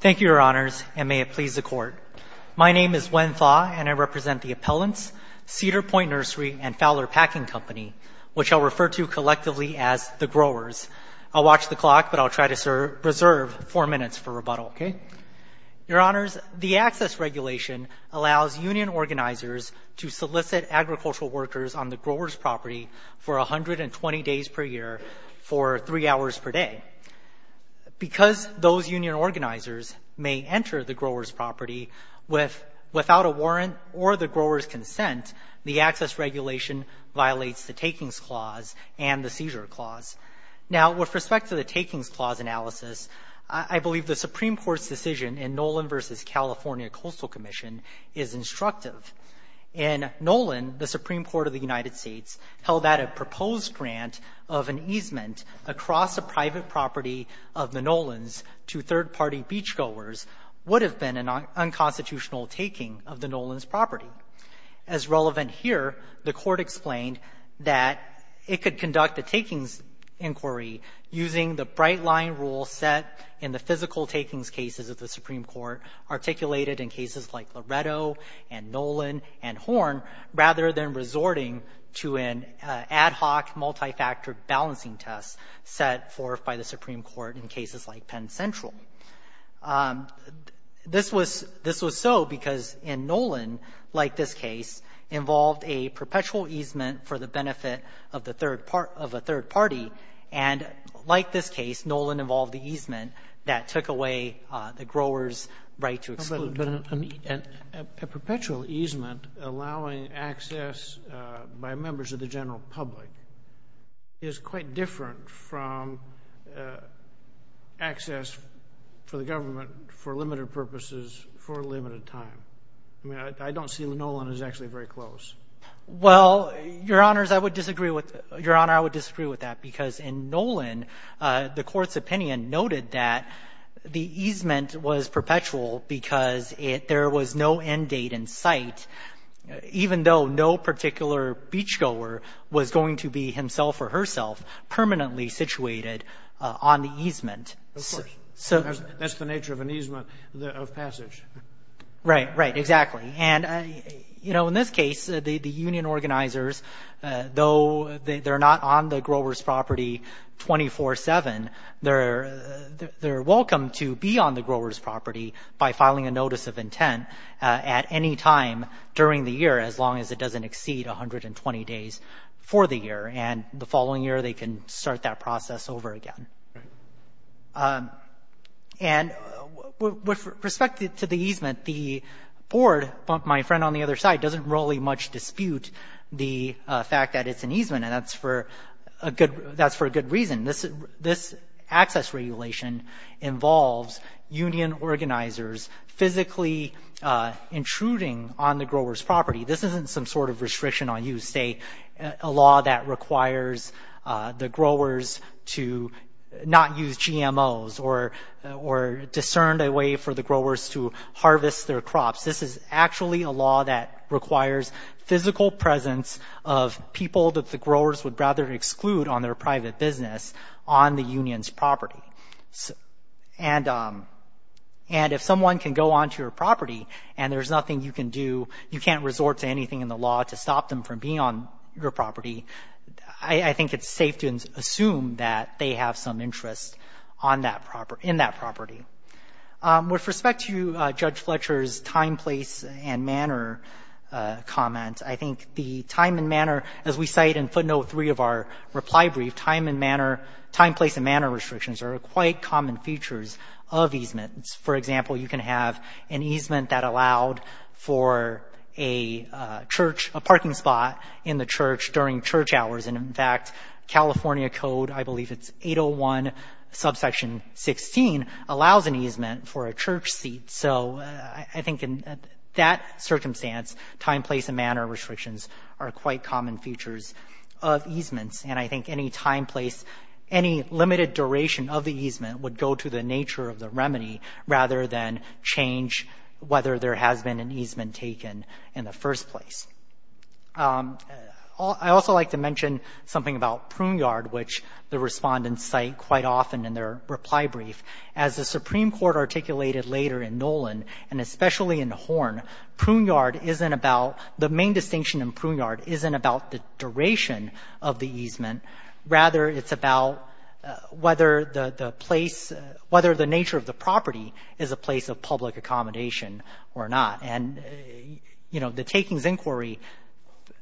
Thank you, Your Honors, and may it please the Court. My name is Wen Thaw, and I represent the Appellants, Cedar Point Nursery, and Fowler Packing Company, which I'll refer to collectively as the growers. I'll watch the clock, but I'll try to reserve four minutes for rebuttal. Your Honors, the Access Regulation allows union organizers to solicit agricultural workers on the growers' property for 120 days per year for three hours per day. Because those union organizers may enter the growers' property without a warrant or the growers' consent, the Access Regulation violates the Takings Clause and the Seizure Clause. Now, with respect to the Takings Clause analysis, I believe the Supreme Court's decision in Nolan v. California Coastal Commission is instructive. In Nolan, the Supreme Court of the United States held that a proposed grant of an easement across a private property of the Nolans to third-party beachgoers would have been an unconstitutional taking of the Nolans' property. As relevant here, the Court explained that it could conduct a takings inquiry using the bright-line rule set in the physical takings cases of the Supreme Court, articulated in cases like Loretto and Nolan and Horn, rather than resorting to an ad hoc multi-factor balancing test set forth by the Supreme Court in cases like Penn Central. This was so because in Nolan, like this case, involved a perpetual easement for the benefit of a third party, and like this case, Nolan involved the easement that took away the grower's right to exclude. But a perpetual easement allowing access by members of the general public is quite different from access for the government for limited purposes for a limited time. I mean, I don't see Nolan as actually very close. Well, Your Honors, I would disagree with that, because in Nolan, the Court's opinion noted that the easement was perpetual because there was no end date in sight, even though no particular beachgoer was going to be himself or herself permanently situated on the easement. Of course. That's the nature of an easement of passage. Right. Exactly. And, you know, in this case, the union organizers, though they're not on the grower's property 24-7, they're welcome to be on the grower's property by filing a notice of intent at any time during the year, as long as it doesn't exceed 120 days for the year. And the following year, they can start that process over again. Right. And with respect to the easement, the Board, my friend on the other side, doesn't really much dispute the fact that it's an easement, and that's for a good reason. This access regulation involves union organizers physically intruding on the grower's property. This isn't some sort of restriction on use, say, a law that requires the growers to not use GMOs or discern a way for the growers to harvest their crops. This is actually a law that requires physical presence of people that the growers would rather exclude on their private business on the union's property. And if someone can go onto your property and there's nothing you can do, you can't resort to anything in the law to stop them from being on your property, I think it's safe to assume that they have some interest on that property, in that property. With respect to Judge Fletcher's time, place, and manner comment, I think the time and manner, as we cite in footnote 3 of our reply brief, time and manner, time, place, and manner restrictions are quite common features of easements. For example, you can have an easement that allowed for a church, a parking spot in the church during church hours. And, in fact, California Code, I believe it's 801 subsection 16, allows an easement for a church seat. So I think in that circumstance, time, place, and manner restrictions are quite common features of easements. And I think any time, place, any limited duration of the easement would go to the nature of the remedy rather than change whether there has been an easement taken in the first place. I'd also like to mention something about Pruneyard, which the respondents cite quite often in their reply brief. As the Supreme Court articulated later in Nolan, and especially in Horn, Pruneyard isn't about the main distinction in Pruneyard isn't about the duration of the easement. Rather, it's about whether the place, whether the nature of the property is a place of public accommodation or not. And, you know, the Takings Inquiry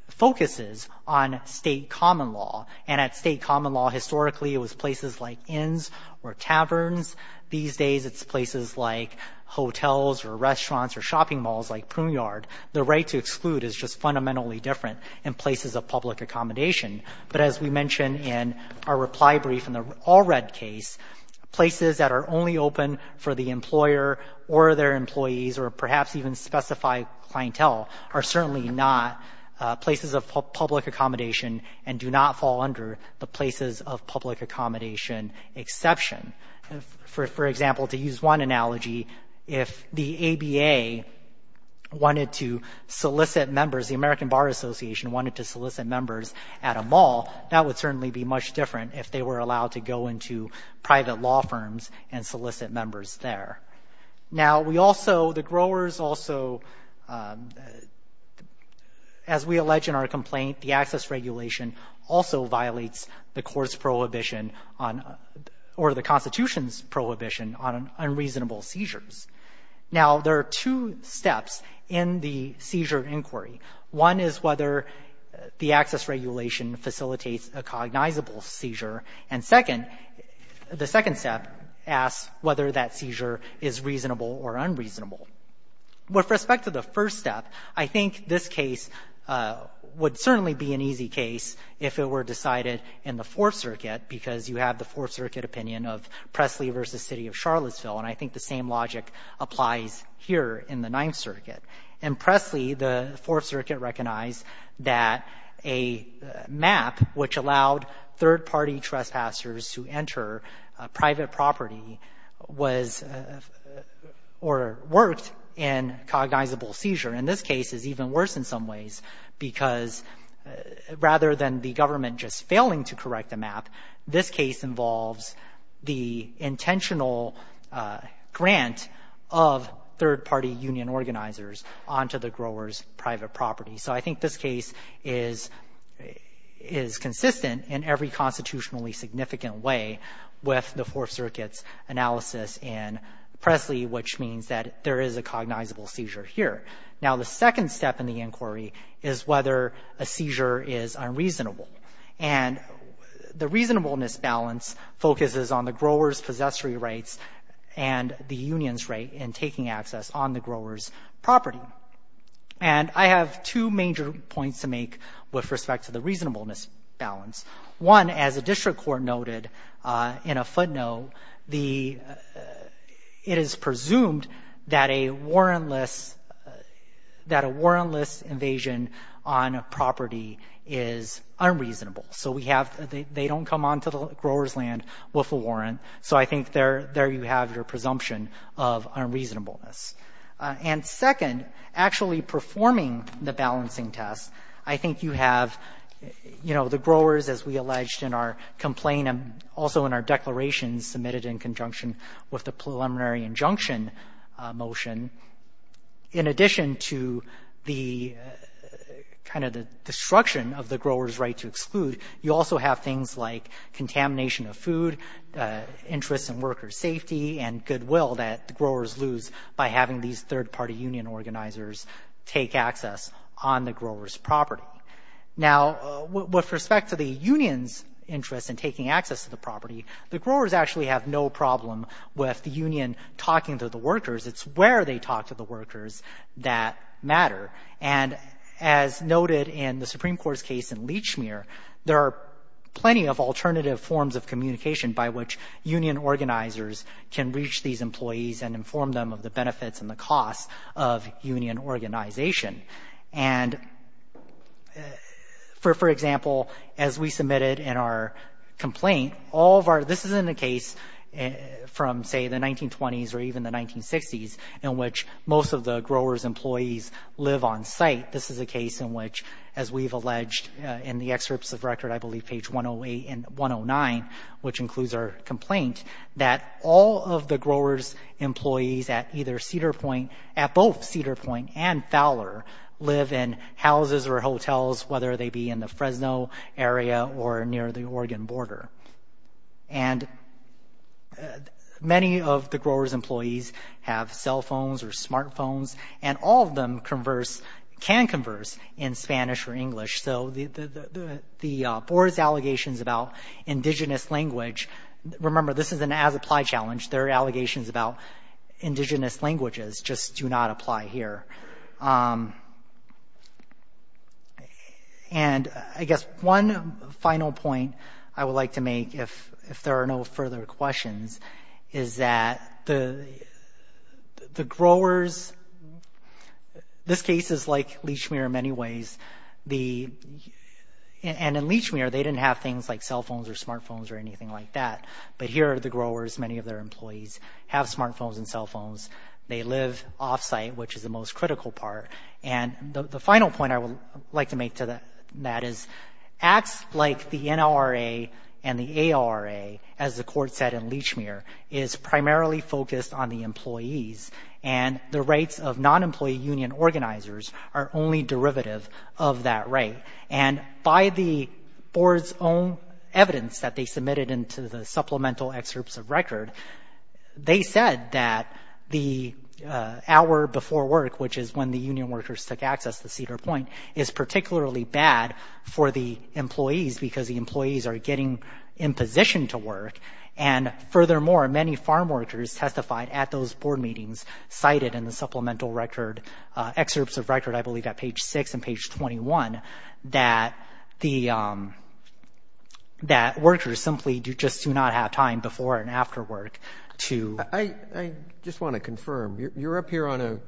focuses on State common law. And at State common law, historically, it was places like inns or taverns. These days, it's places like hotels or restaurants or shopping malls like Pruneyard. The right to exclude is just fundamentally different in places of public accommodation. But as we mentioned in our reply brief in the Allred case, places that are only open for the employer or their employees or perhaps even specified clientele are certainly not places of public accommodation and do not fall under the places of public accommodation exception. For example, to use one analogy, if the ABA wanted to solicit members, the American Bar Association wanted to solicit members at a mall, that would certainly be much different if they were allowed to go into private law firms and solicit members there. Now, we also, the growers also, as we allege in our complaint, the access regulation also violates the court's prohibition on or the Constitution's prohibition on unreasonable seizures. Now, there are two steps in the seizure inquiry. One is whether the access regulation facilitates a cognizable seizure. And second, the second step asks whether that seizure is reasonable or unreasonable. With respect to the first step, I think this case would certainly be an easy case if it were decided in the Fourth Circuit because you have the Fourth Circuit opinion of Presley v. City of Charlottesville, and I think the same logic applies here in the Ninth Circuit. In Presley, the Fourth Circuit recognized that a map which allowed third-party trespassers to enter private property was or worked in cognizable seizure. And this case is even worse in some ways because rather than the government just failing to correct the map, this case involves the intentional grant of third-party union organizers onto the growers' private property. So I think this case is consistent in every constitutionally significant way with the Fourth Circuit's analysis in Presley, which means that there is a cognizable seizure here. Now, the second step in the inquiry is whether a seizure is unreasonable. And the reasonableness balance focuses on the growers' possessory rights and the union's right in taking access on the growers' property. And I have two major points to make with respect to the reasonableness balance. One, as the district court noted in a footnote, the ‑‑ it is presumed that a warrantless ‑‑ that a warrantless invasion on property is unreasonable. So we have ‑‑ they don't come onto the grower's land with a warrant. So I think there you have your presumption of unreasonableness. And second, actually performing the balancing test, I think you have, you know, the growers, as we alleged in our complaint and also in our declaration submitted in conjunction with the preliminary injunction motion, in addition to the kind of the destruction of the growers' right to exclude, you also have things like contamination of food, interest in workers' safety, and goodwill that the growers lose by having these third-party union organizers take access on the growers' property. Now, with respect to the union's interest in taking access to the property, the growers actually have no problem with the union talking to the workers. It's where they talk to the workers that matter. And as noted in the Supreme Court's case in Lechmere, there are plenty of alternative forms of communication by which union organizers can reach these employees and inform them of the benefits and the costs of union organization. And for example, as we submitted in our complaint, all of our ‑‑ from, say, the 1920s or even the 1960s, in which most of the growers' employees live on site, this is a case in which, as we've alleged in the excerpts of record, I believe page 108 and 109, which includes our complaint, that all of the growers' employees at either Cedar Point, at both Cedar Point and Fowler, live in houses or hotels, whether they be in the Fresno area or near the Oregon border. And many of the growers' employees have cell phones or smart phones, and all of them can converse in Spanish or English. So the board's allegations about indigenous language, remember, this is an as-applied challenge. Their allegations about indigenous languages just do not apply here. And I guess one final point I would like to make, if there are no further questions, is that the growers ‑‑ this case is like Lechmere in many ways. And in Lechmere, they didn't have things like cell phones or smart phones or anything like that. But here are the growers, many of their employees, have smart phones and cell phones. They live off‑site, which is the most critical part. And the final point I would like to make to that is acts like the NLRA and the AORA, as the court said in Lechmere, is primarily focused on the employees, and the rights of non‑employee union organizers are only derivative of that right. And by the board's own evidence that they submitted into the supplemental excerpts of record, they said that the hour before work, which is when the union workers took access to Cedar Point, is particularly bad for the employees, because the employees are getting in position to work. And furthermore, many farm workers testified at those board meetings, cited in the supplemental record ‑‑ excerpts of record, I believe, at page 6 and page 21, that the ‑‑ that workers simply just do not have time before and afterwards. I just want to confirm, you're up here on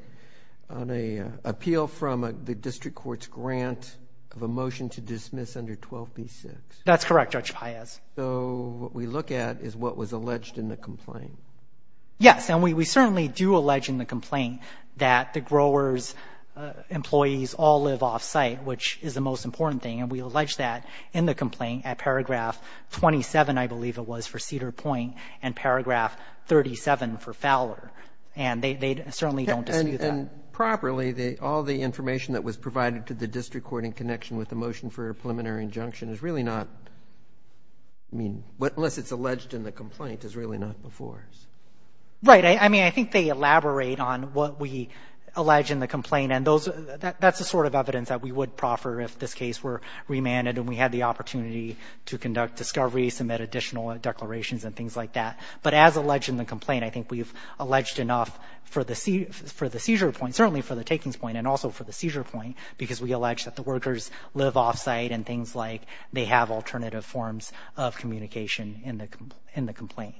an appeal from the district court's grant of a motion to dismiss under 12B6. That's correct, Judge Páez. So what we look at is what was alleged in the complaint. Yes, and we certainly do allege in the complaint that the growers' employees all live off‑site, which is the most important thing, and we allege that in the complaint at paragraph 27, I believe it was, for Cedar Point, and paragraph 37 for Fowler. And they certainly don't dispute that. And properly, all the information that was provided to the district court in connection with the motion for a preliminary injunction is really not ‑‑ I mean, unless it's alleged in the complaint, it's really not before us. Right. I mean, I think they elaborate on what we allege in the complaint, and that's the sort of evidence that we would proffer if this case were remanded and we had the opportunity to conduct discovery, submit additional declarations, and things like that. But as alleged in the complaint, I think we've alleged enough for the seizure point, certainly for the takings point, and also for the seizure point, because we allege that the workers live off‑site and things like they have alternative forms of communication in the complaint.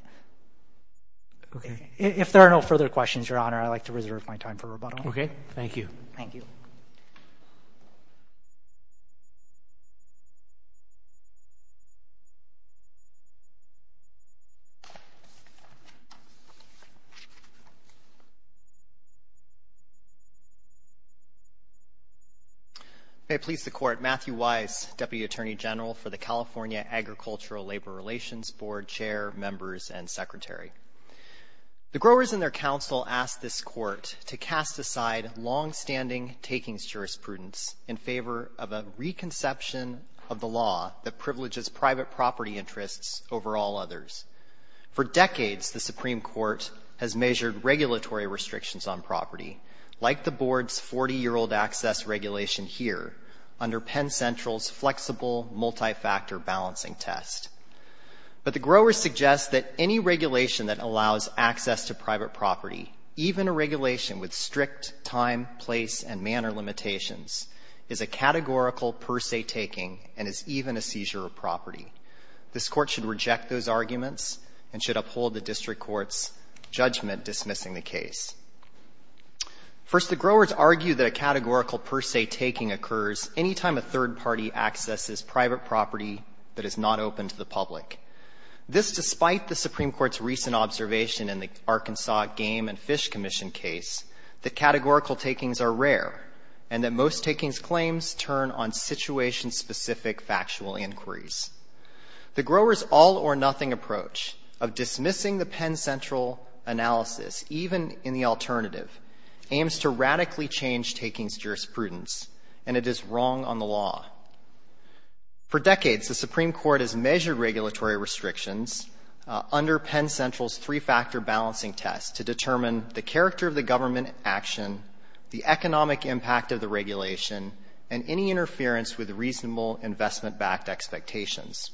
Okay. If there are no further questions, Your Honor, I'd like to reserve my time for rebuttal. Okay. Thank you. Thank you. Thank you. May it please the Court, Matthew Weiss, Deputy Attorney General for the California Agricultural Labor Relations Board, Chair, Members, and Secretary. The growers and their counsel ask this Court to cast aside longstanding takings jurisprudence in favor of a reconception of the law that privileges private property interests over all others. For decades, the Supreme Court has measured regulatory restrictions on property, like the Board's 40‑year‑old access regulation here, under Penn Central's flexible multi‑factor balancing test. But the growers suggest that any regulation that allows access to private property, even a regulation with strict time, place, and manner limitations, is a categorical per se taking and is even a seizure of property. This Court should reject those arguments and should uphold the district court's judgment dismissing the case. First, the growers argue that a categorical per se taking occurs any time a third party accesses private property that is not open to the public. This despite the Supreme Court's recent observation in the Arkansas Game and Fish Commission case that categorical takings are rare and that most takings claims turn on situation‑specific factual inquiries. The growers' all or nothing approach of dismissing the Penn Central analysis, even in the alternative, aims to radically change takings jurisprudence, and it is wrong on the law. For decades, the Supreme Court has measured regulatory restrictions under Penn Central's three‑factor balancing test to determine the character of the government action, the economic impact of the regulation, and any interference with reasonable investment‑backed expectations.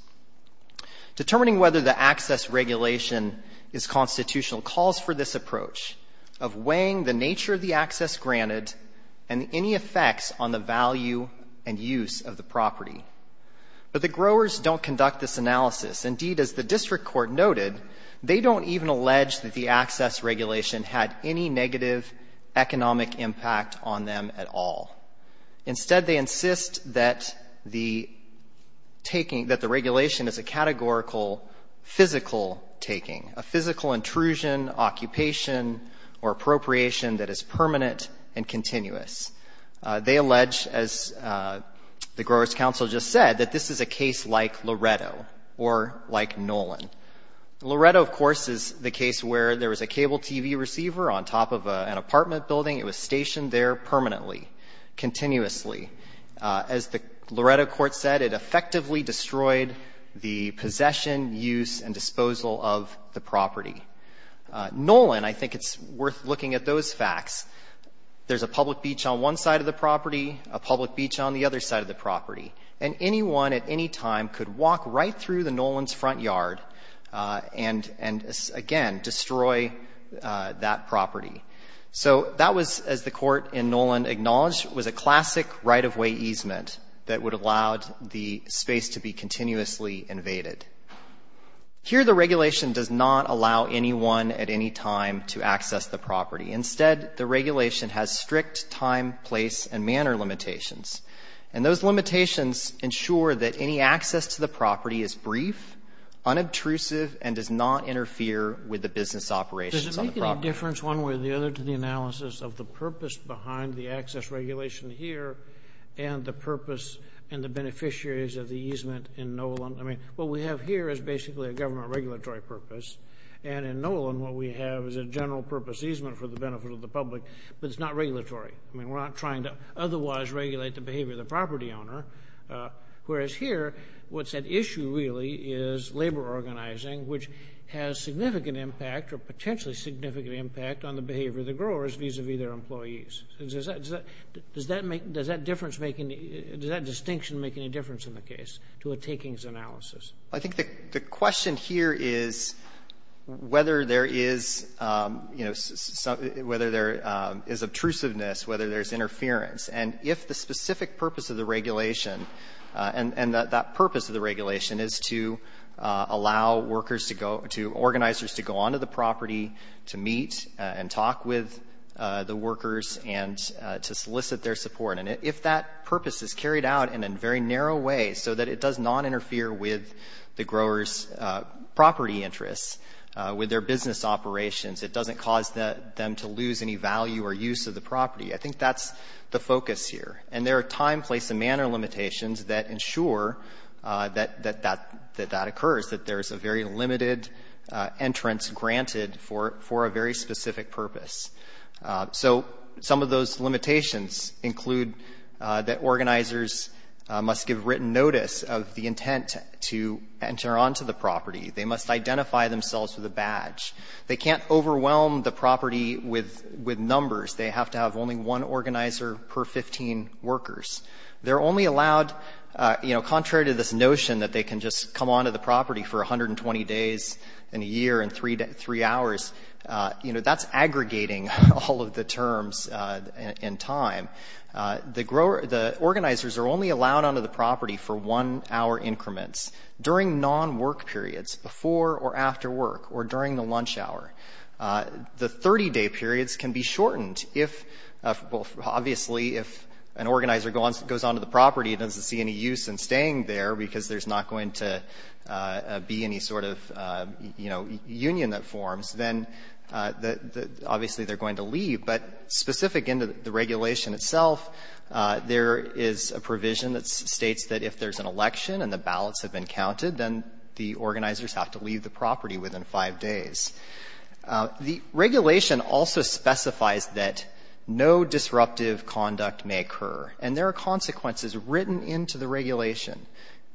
Determining whether the access regulation is constitutional calls for this approach of weighing the nature of the access granted and any effects on the value and use of the property. But the growers don't conduct this analysis. Indeed, as the district court noted, they don't even allege that the access regulation had any negative economic impact on them at all. Instead, they insist that the taking ‑‑ that the regulation is a categorical physical taking, a physical intrusion, occupation, or appropriation that is permanent and continuous. They allege, as the growers' council just said, that this is a case like Loretto or like Nolan. Loretto, of course, is the case where there was a cable TV receiver on top of an apartment building. It was stationed there permanently, continuously. As the Loretto court said, it effectively destroyed the possession, use, and disposal of the property. Nolan, I think it's worth looking at those facts. There's a public beach on one side of the property, a public beach on the other side of the property, and anyone at any time could walk right through the Nolan's front yard and, again, destroy that property. So that was, as the court in Nolan acknowledged, was a classic right-of-way easement that would have allowed the space to be continuously invaded. Here, the regulation does not allow anyone at any time to access the property. Instead, the regulation has strict time, place, and manner limitations. And those limitations ensure that any access to the property is brief, unobtrusive, and does not interfere with the business operations on the property. Does it make any difference, one way or the other, to the analysis of the purpose behind the access regulation here and the purpose and the beneficiaries of the easement in Nolan? I mean, what we have here is basically a government regulatory purpose. And in Nolan, what we have is a general-purpose easement for the benefit of the public, but it's not regulatory. I mean, we're not trying to otherwise regulate the behavior of the property owner. Whereas here, what's at issue really is labor organizing, which has significant impact or potentially significant impact on the behavior of the growers vis-à-vis their employees. Does that distinction make any difference in the case to a takings analysis? I think the question here is whether there is, you know, whether there is obtrusiveness, whether there's interference. And if the specific purpose of the regulation and that purpose of the regulation is to allow workers to go to organizers to go on to the property to meet and talk with the workers and to solicit their support. And if that purpose is carried out in a very narrow way so that it does not interfere with the growers' property interests, with their business operations, it doesn't cause them to lose any value or use of the property. I think that's the focus here. And there are time, place, and manner limitations that ensure that that occurs, that there's a very limited entrance granted for a very specific purpose. So some of those limitations include that organizers must give written notice of the intent to enter on to the property. They must identify themselves with a badge. They can't overwhelm the property with numbers. They have to have only one organizer per 15 workers. They're only allowed, you know, contrary to this notion that they can just come on to the property for 120 days in a year and three hours, you know, that's aggregating all of the terms in time. The organizers are only allowed on to the property for one-hour increments during non-work periods, before or after work, or during the lunch hour. The 30-day periods can be shortened if, well, obviously if an organizer goes on to the property and there doesn't be any sort of, you know, union that forms, then obviously they're going to leave. But specific into the regulation itself, there is a provision that states that if there's an election and the ballots have been counted, then the organizers have to leave the property within 5 days. The regulation also specifies that no disruptive conduct may occur. And there are consequences written into the regulation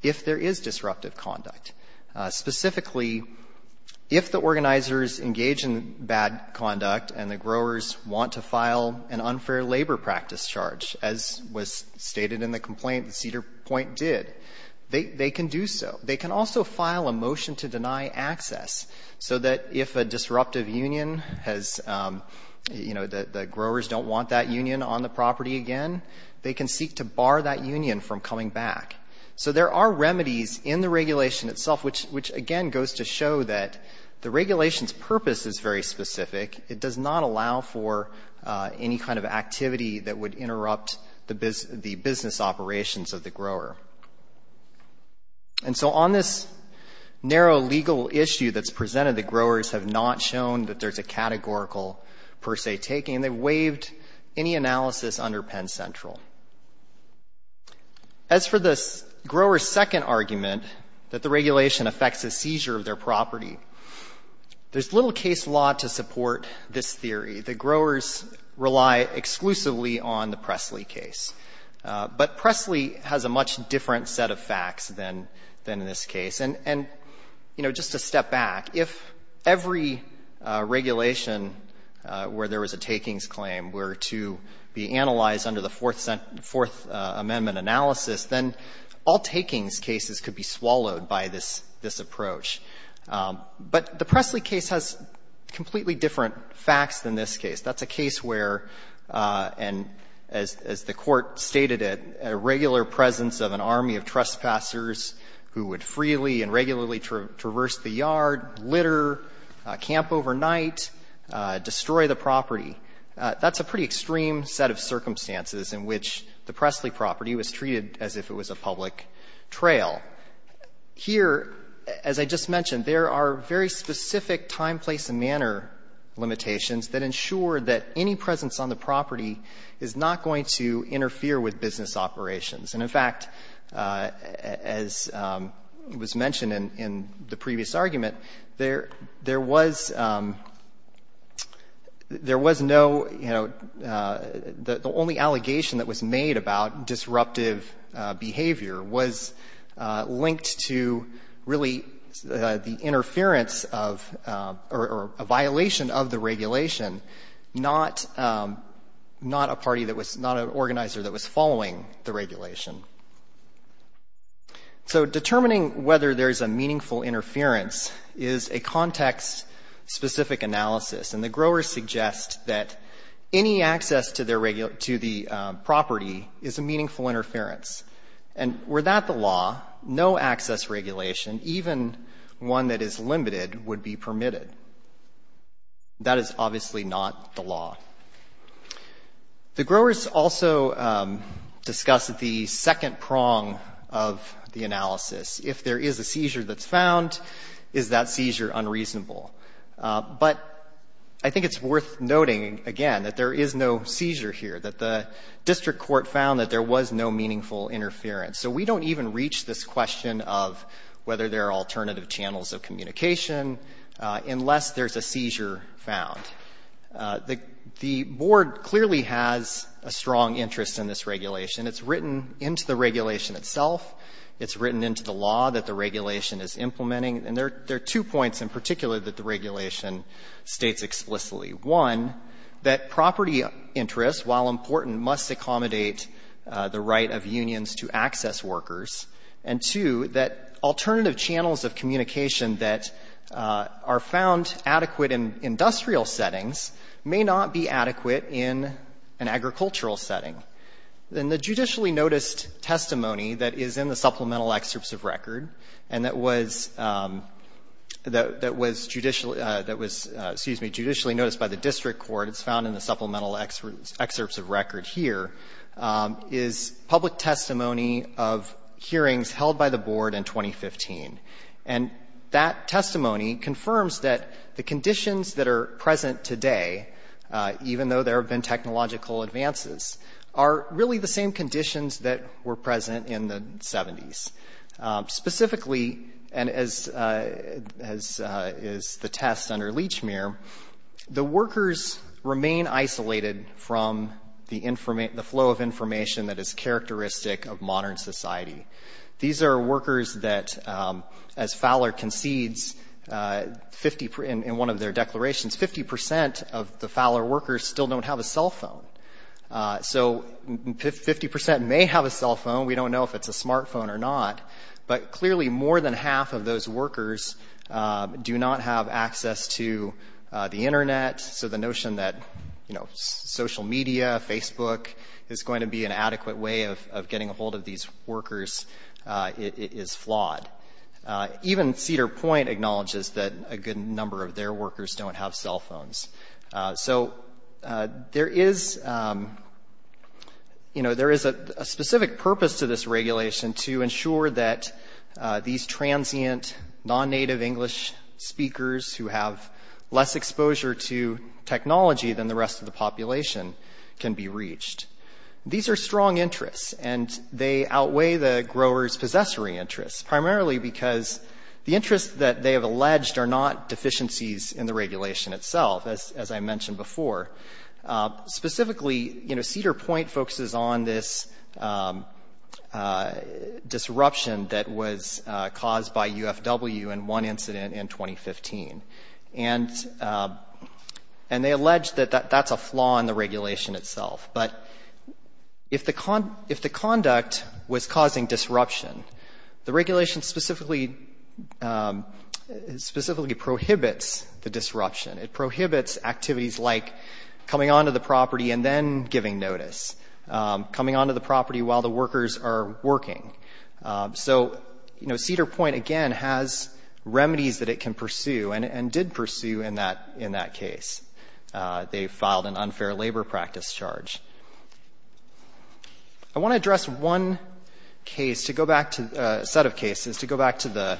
if there is disruptive conduct. Specifically, if the organizers engage in bad conduct and the growers want to file an unfair labor practice charge, as was stated in the complaint that Cedar Point did, they can do so. They can also file a motion to deny access, so that if a disruptive union has, you know, occurred, they can seek to bar that union from coming back. So there are remedies in the regulation itself, which again goes to show that the regulation's purpose is very specific. It does not allow for any kind of activity that would interrupt the business operations of the grower. And so on this narrow legal issue that's presented, the growers have not shown that there's a categorical, per se, taking. They've waived any analysis under Penn Central. As for the grower's second argument, that the regulation affects a seizure of their property, there's little case law to support this theory. The growers rely exclusively on the Presley case. But Presley has a much different set of facts than in this case. And, you know, just to step back, if every regulation where there was a takings claim were to be analyzed under the Fourth Amendment analysis, then all takings cases could be swallowed by this approach. But the Presley case has completely different facts than this case. That's a case where, and as the Court stated it, a regular presence of an army of trespassers who would freely and regularly traverse the yard, litter, camp overnight, destroy the property. That's a pretty extreme set of circumstances in which the Presley property was treated as if it was a public trail. Here, as I just mentioned, there are very specific time, place and manner limitations that ensure that any presence on the property is not going to interfere with business operations. And, in fact, as was mentioned in the previous argument, there was no, you know, the only allegation that was made about disruptive behavior was linked to really the interference of or a violation of the regulation, not a party that was, not an organizer that was following the regulation. So determining whether there's a meaningful interference is a context-specific analysis. And the growers suggest that any access to their regular to the property is a meaningful interference. And were that the law, no access regulation, even one that is limited, would be permitted. That is obviously not the law. The growers also discuss the second prong of the analysis. If there is a seizure that's found, is that seizure unreasonable? But I think it's worth noting, again, that there is no seizure here, that the district court found that there was no meaningful interference. So we don't even reach this question of whether there are alternative channels of communication unless there's a seizure found. The Board clearly has a strong interest in this regulation. It's written into the regulation itself. It's written into the law that the regulation is implementing. And there are two points in particular that the regulation states explicitly. One, that property interests, while important, must accommodate the right of unions to access workers. And two, that alternative channels of communication that are found adequate in industrial settings may not be adequate in an agricultural setting. In the judicially noticed testimony that is in the supplemental excerpts of record and that was, that was judicially, that was, excuse me, judicially noticed by the district court, it's found in the supplemental excerpts of record here, is public testimony of hearings held by the Board in 2015. And that testimony confirms that the conditions that are present today, even though there have been technological advances, are really the same conditions that were present in the 70s. Specifically, and as the test under Lechmere, the workers remain isolated from the flow of information that is characteristic of modern society. These are workers that, as Fowler concedes in one of their declarations, 50 percent of the Fowler workers still don't have a cell phone. So 50 percent may have a cell phone. We don't know if it's a smartphone or not. But clearly, more than half of those workers do not have access to the Internet. So the notion that, you know, social media, Facebook, is going to be an adequate way of getting a hold of these workers is flawed. Even Cedar Point acknowledges that a good number of their workers don't have cell phones. So there is, you know, there is a specific purpose to this regulation to ensure that these transient, non-native English speakers who have less exposure to technology than the rest of the population can be reached. These are strong interests, and they outweigh the growers' possessory interests, primarily because the interests that they have alleged are not deficiencies in the regulation itself, as I mentioned before. Specifically, you know, Cedar Point focuses on this disruption that was caused by UFW in one incident in 2015. And they allege that that's a flaw in the regulation itself. But if the conduct was causing disruption, the regulation specifically prohibits the disruption. It prohibits activities like coming onto the property and then giving notice, coming onto the property while the workers are working. So, you know, Cedar Point, again, has remedies that it can pursue and did pursue in that case. They filed an unfair labor practice charge. I want to address one case to go back to the set of cases to go back to the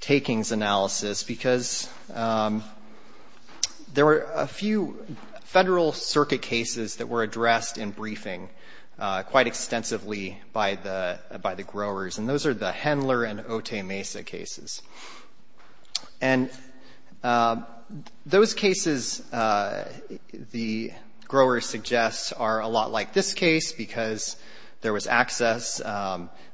takings analysis, because there were a few Federal Circuit cases that were addressed in briefing quite extensively by the growers. And those are the Hendler and Otay Mesa cases. And those cases, the growers suggest, are a lot like this case because there was access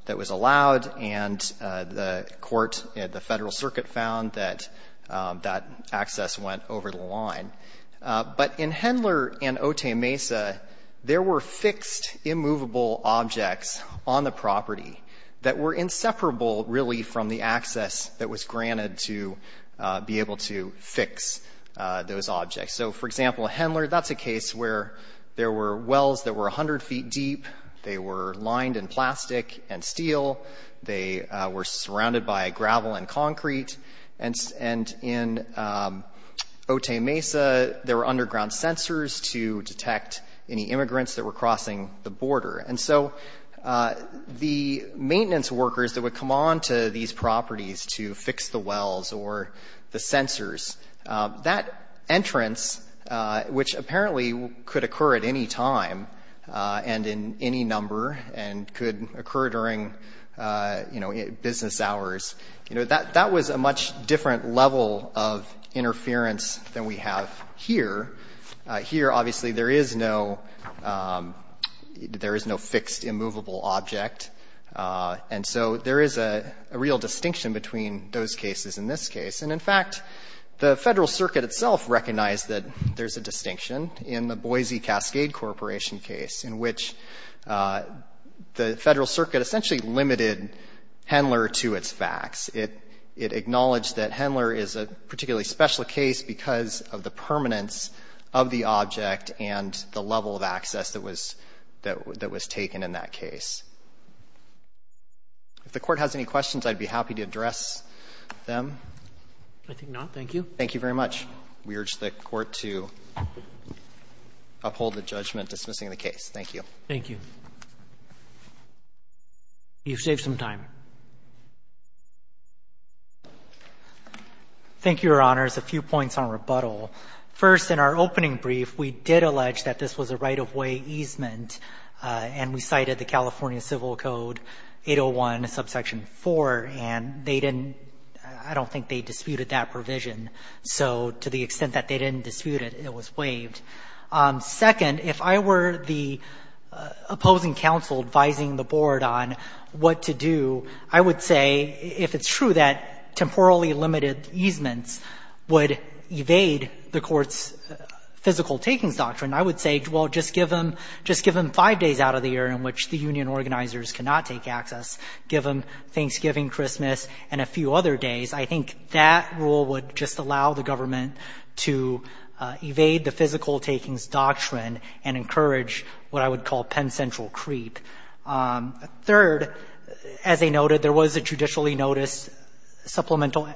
that was allowed, and the court at the Federal Circuit found that that access went over the line. But in Hendler and Otay Mesa, there were fixed immovable objects on the property that were inseparable, really, from the access that was granted to be able to fix those objects. So, for example, Hendler, that's a case where there were wells that were 100 feet deep. They were lined in plastic and steel. They were surrounded by gravel and concrete. And in Otay Mesa, there were underground sensors to detect any immigrants that were crossing the border. And so the maintenance workers that would come on to these properties to fix the wells or the sensors, that entrance, which apparently could occur at any time and in any number and could occur during business hours, that was a much different level of interference than we have here. Here, obviously, there is no fixed immovable object. And so there is a real distinction between those cases and this case. And in fact, the Federal Circuit itself recognized that there's a distinction in the Boise Cascade Corporation case in which the Federal Circuit essentially limited Hendler to its facts. It acknowledged that Hendler is a particularly special case because of the permanence of the object and the level of access that was taken in that case. If the Court has any questions, I'd be happy to address them. Roberts. I think not. Thank you. Thank you very much. We urge the Court to uphold the judgment dismissing the case. Thank you. Thank you. You've saved some time. Thank you, Your Honors. A few points on rebuttal. First, in our opening brief, we did allege that this was a right-of-way easement, and we cited the California Civil Code 801, subsection 4, and they didn't — I don't think they disputed that provision. So to the extent that they didn't dispute it, it was waived. Second, if I were the opposing counsel advising the Board on what to do, I would say, if it's true that temporally limited easements would evade the Court's physical takings doctrine, I would say, well, just give them — just give them five days out of the year in which the union organizers cannot take access. Give them Thanksgiving, Christmas, and a few other days. I think that rule would just allow the government to evade the physical takings doctrine and encourage what I would call Penn Central creep. Third, as I noted, there was a judicially noticed supplemental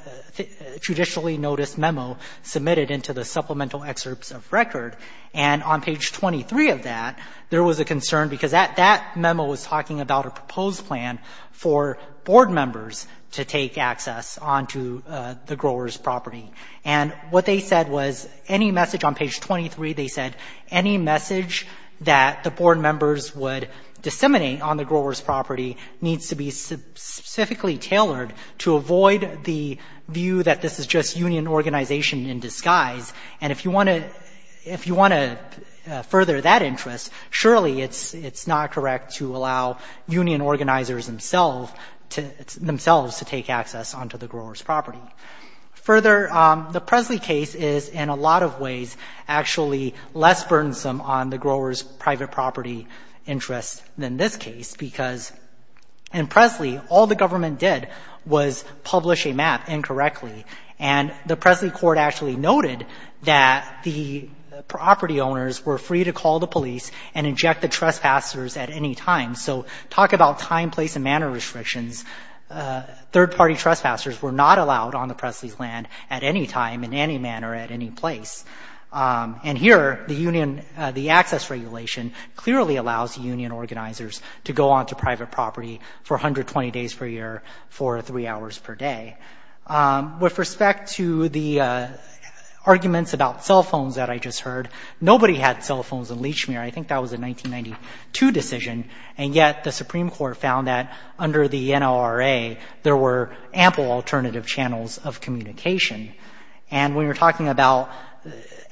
— judicially noticed memo submitted into the supplemental excerpts of record. And on page 23 of that, there was a concern because that — that memo was talking about a proposed plan for Board members to take access onto the grower's property. And what they said was, any message on page 23, they said, any message that the Board members would disseminate on the grower's property needs to be specifically tailored to avoid the view that this is just union organization in disguise. And if you want to — if you want to further that interest, surely it's not correct to allow union organizers themselves to — themselves to take access onto the grower's property. Further, the Presley case is in a lot of ways actually less burdensome on the grower's private property interest than this case, because in Presley, all the government did was publish a map incorrectly. And the Presley court actually noted that the property owners were free to call the police and inject the trespassers at any time. So talk about time, place, and manner restrictions. Third-party trespassers were not allowed on the Presley's land at any time, in any manner, at any place. And here, the union — the access regulation clearly allows union organizers to go onto private property for 120 days per year for three hours per day. With respect to the arguments about cell phones that I just heard, nobody had cell phones in Lechmere. I think that was a 1992 decision, and yet the Supreme Court found that under the NLRA, there were ample alternative channels of communication. And when you're talking about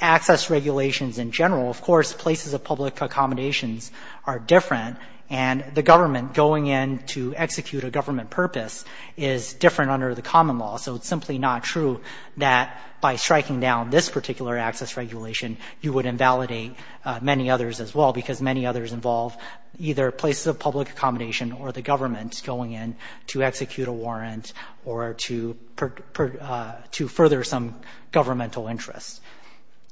access regulations in general, of course, places of public accommodations are different, and the government going in to execute a government purpose is different under the common law. So it's simply not true that by striking down this particular access regulation, you would invalidate many others as well, because many others involve either places of public accommodation or the government going in to execute a warrant or to further some governmental interests.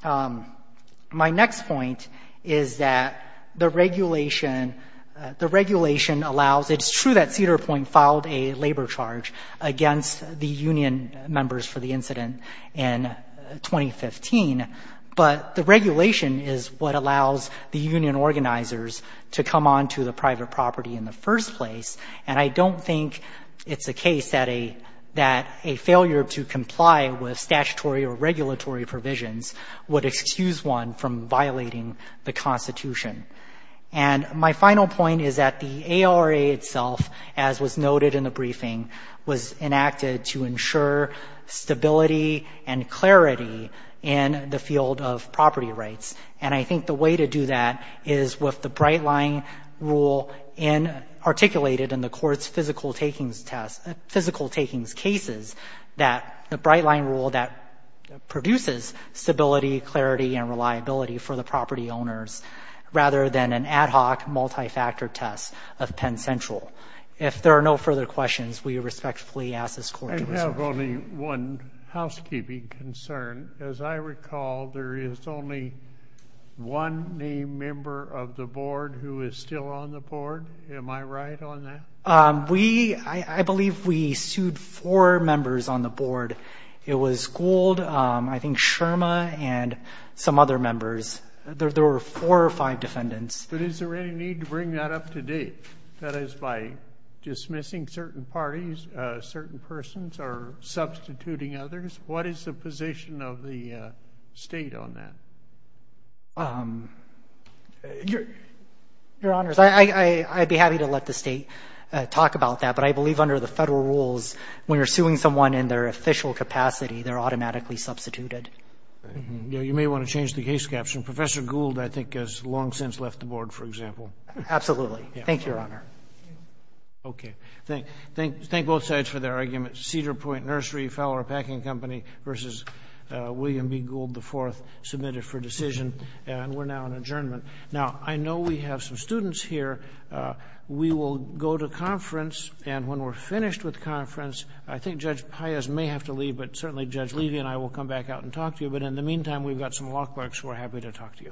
My next point is that the regulation — the regulation allows — it's true that Cedar Charge against the union members for the incident in 2015, but the regulation is what allows the union organizers to come onto the private property in the first place. And I don't think it's a case that a — that a failure to comply with statutory or regulatory provisions would excuse one from violating the Constitution. And my final point is that the ARA itself, as was noted in the briefing, was enacted to ensure stability and clarity in the field of property rights. And I think the way to do that is with the Bright Line rule in — articulated in the court's physical takings test — physical takings cases, that the Bright Line rule that the Bright Line rule is a more effective way to do that than an ad hoc, multifactor test of Penn Central. If there are no further questions, we respectfully ask this court to resolve them. I have only one housekeeping concern. As I recall, there is only one named member of the board who is still on the board. Am I right on that? We — I believe we sued four members on the board. It was Gould, I think Sherma, and some other members. There were four or five defendants. But is there any need to bring that up to date? That is, by dismissing certain parties, certain persons, or substituting others? What is the position of the State on that? Your Honors, I'd be happy to let the State talk about that. But I believe under the Federal rules, when you're suing someone in their official capacity, they're automatically substituted. You may want to change the case caption. Professor Gould, I think, has long since left the board, for example. Absolutely. Thank you, Your Honor. Okay. Thank both sides for their arguments. Cedar Point Nursery, Fowler Packing Company v. William B. Gould IV, submitted for decision. And we're now in adjournment. Now, I know we have some students here. We will go to conference. And when we're finished with conference, I think Judge Paez may have to leave. But certainly, Judge Levy and I will come back out and talk to you. But in the meantime, we've got some Lockbarks who are happy to talk to you.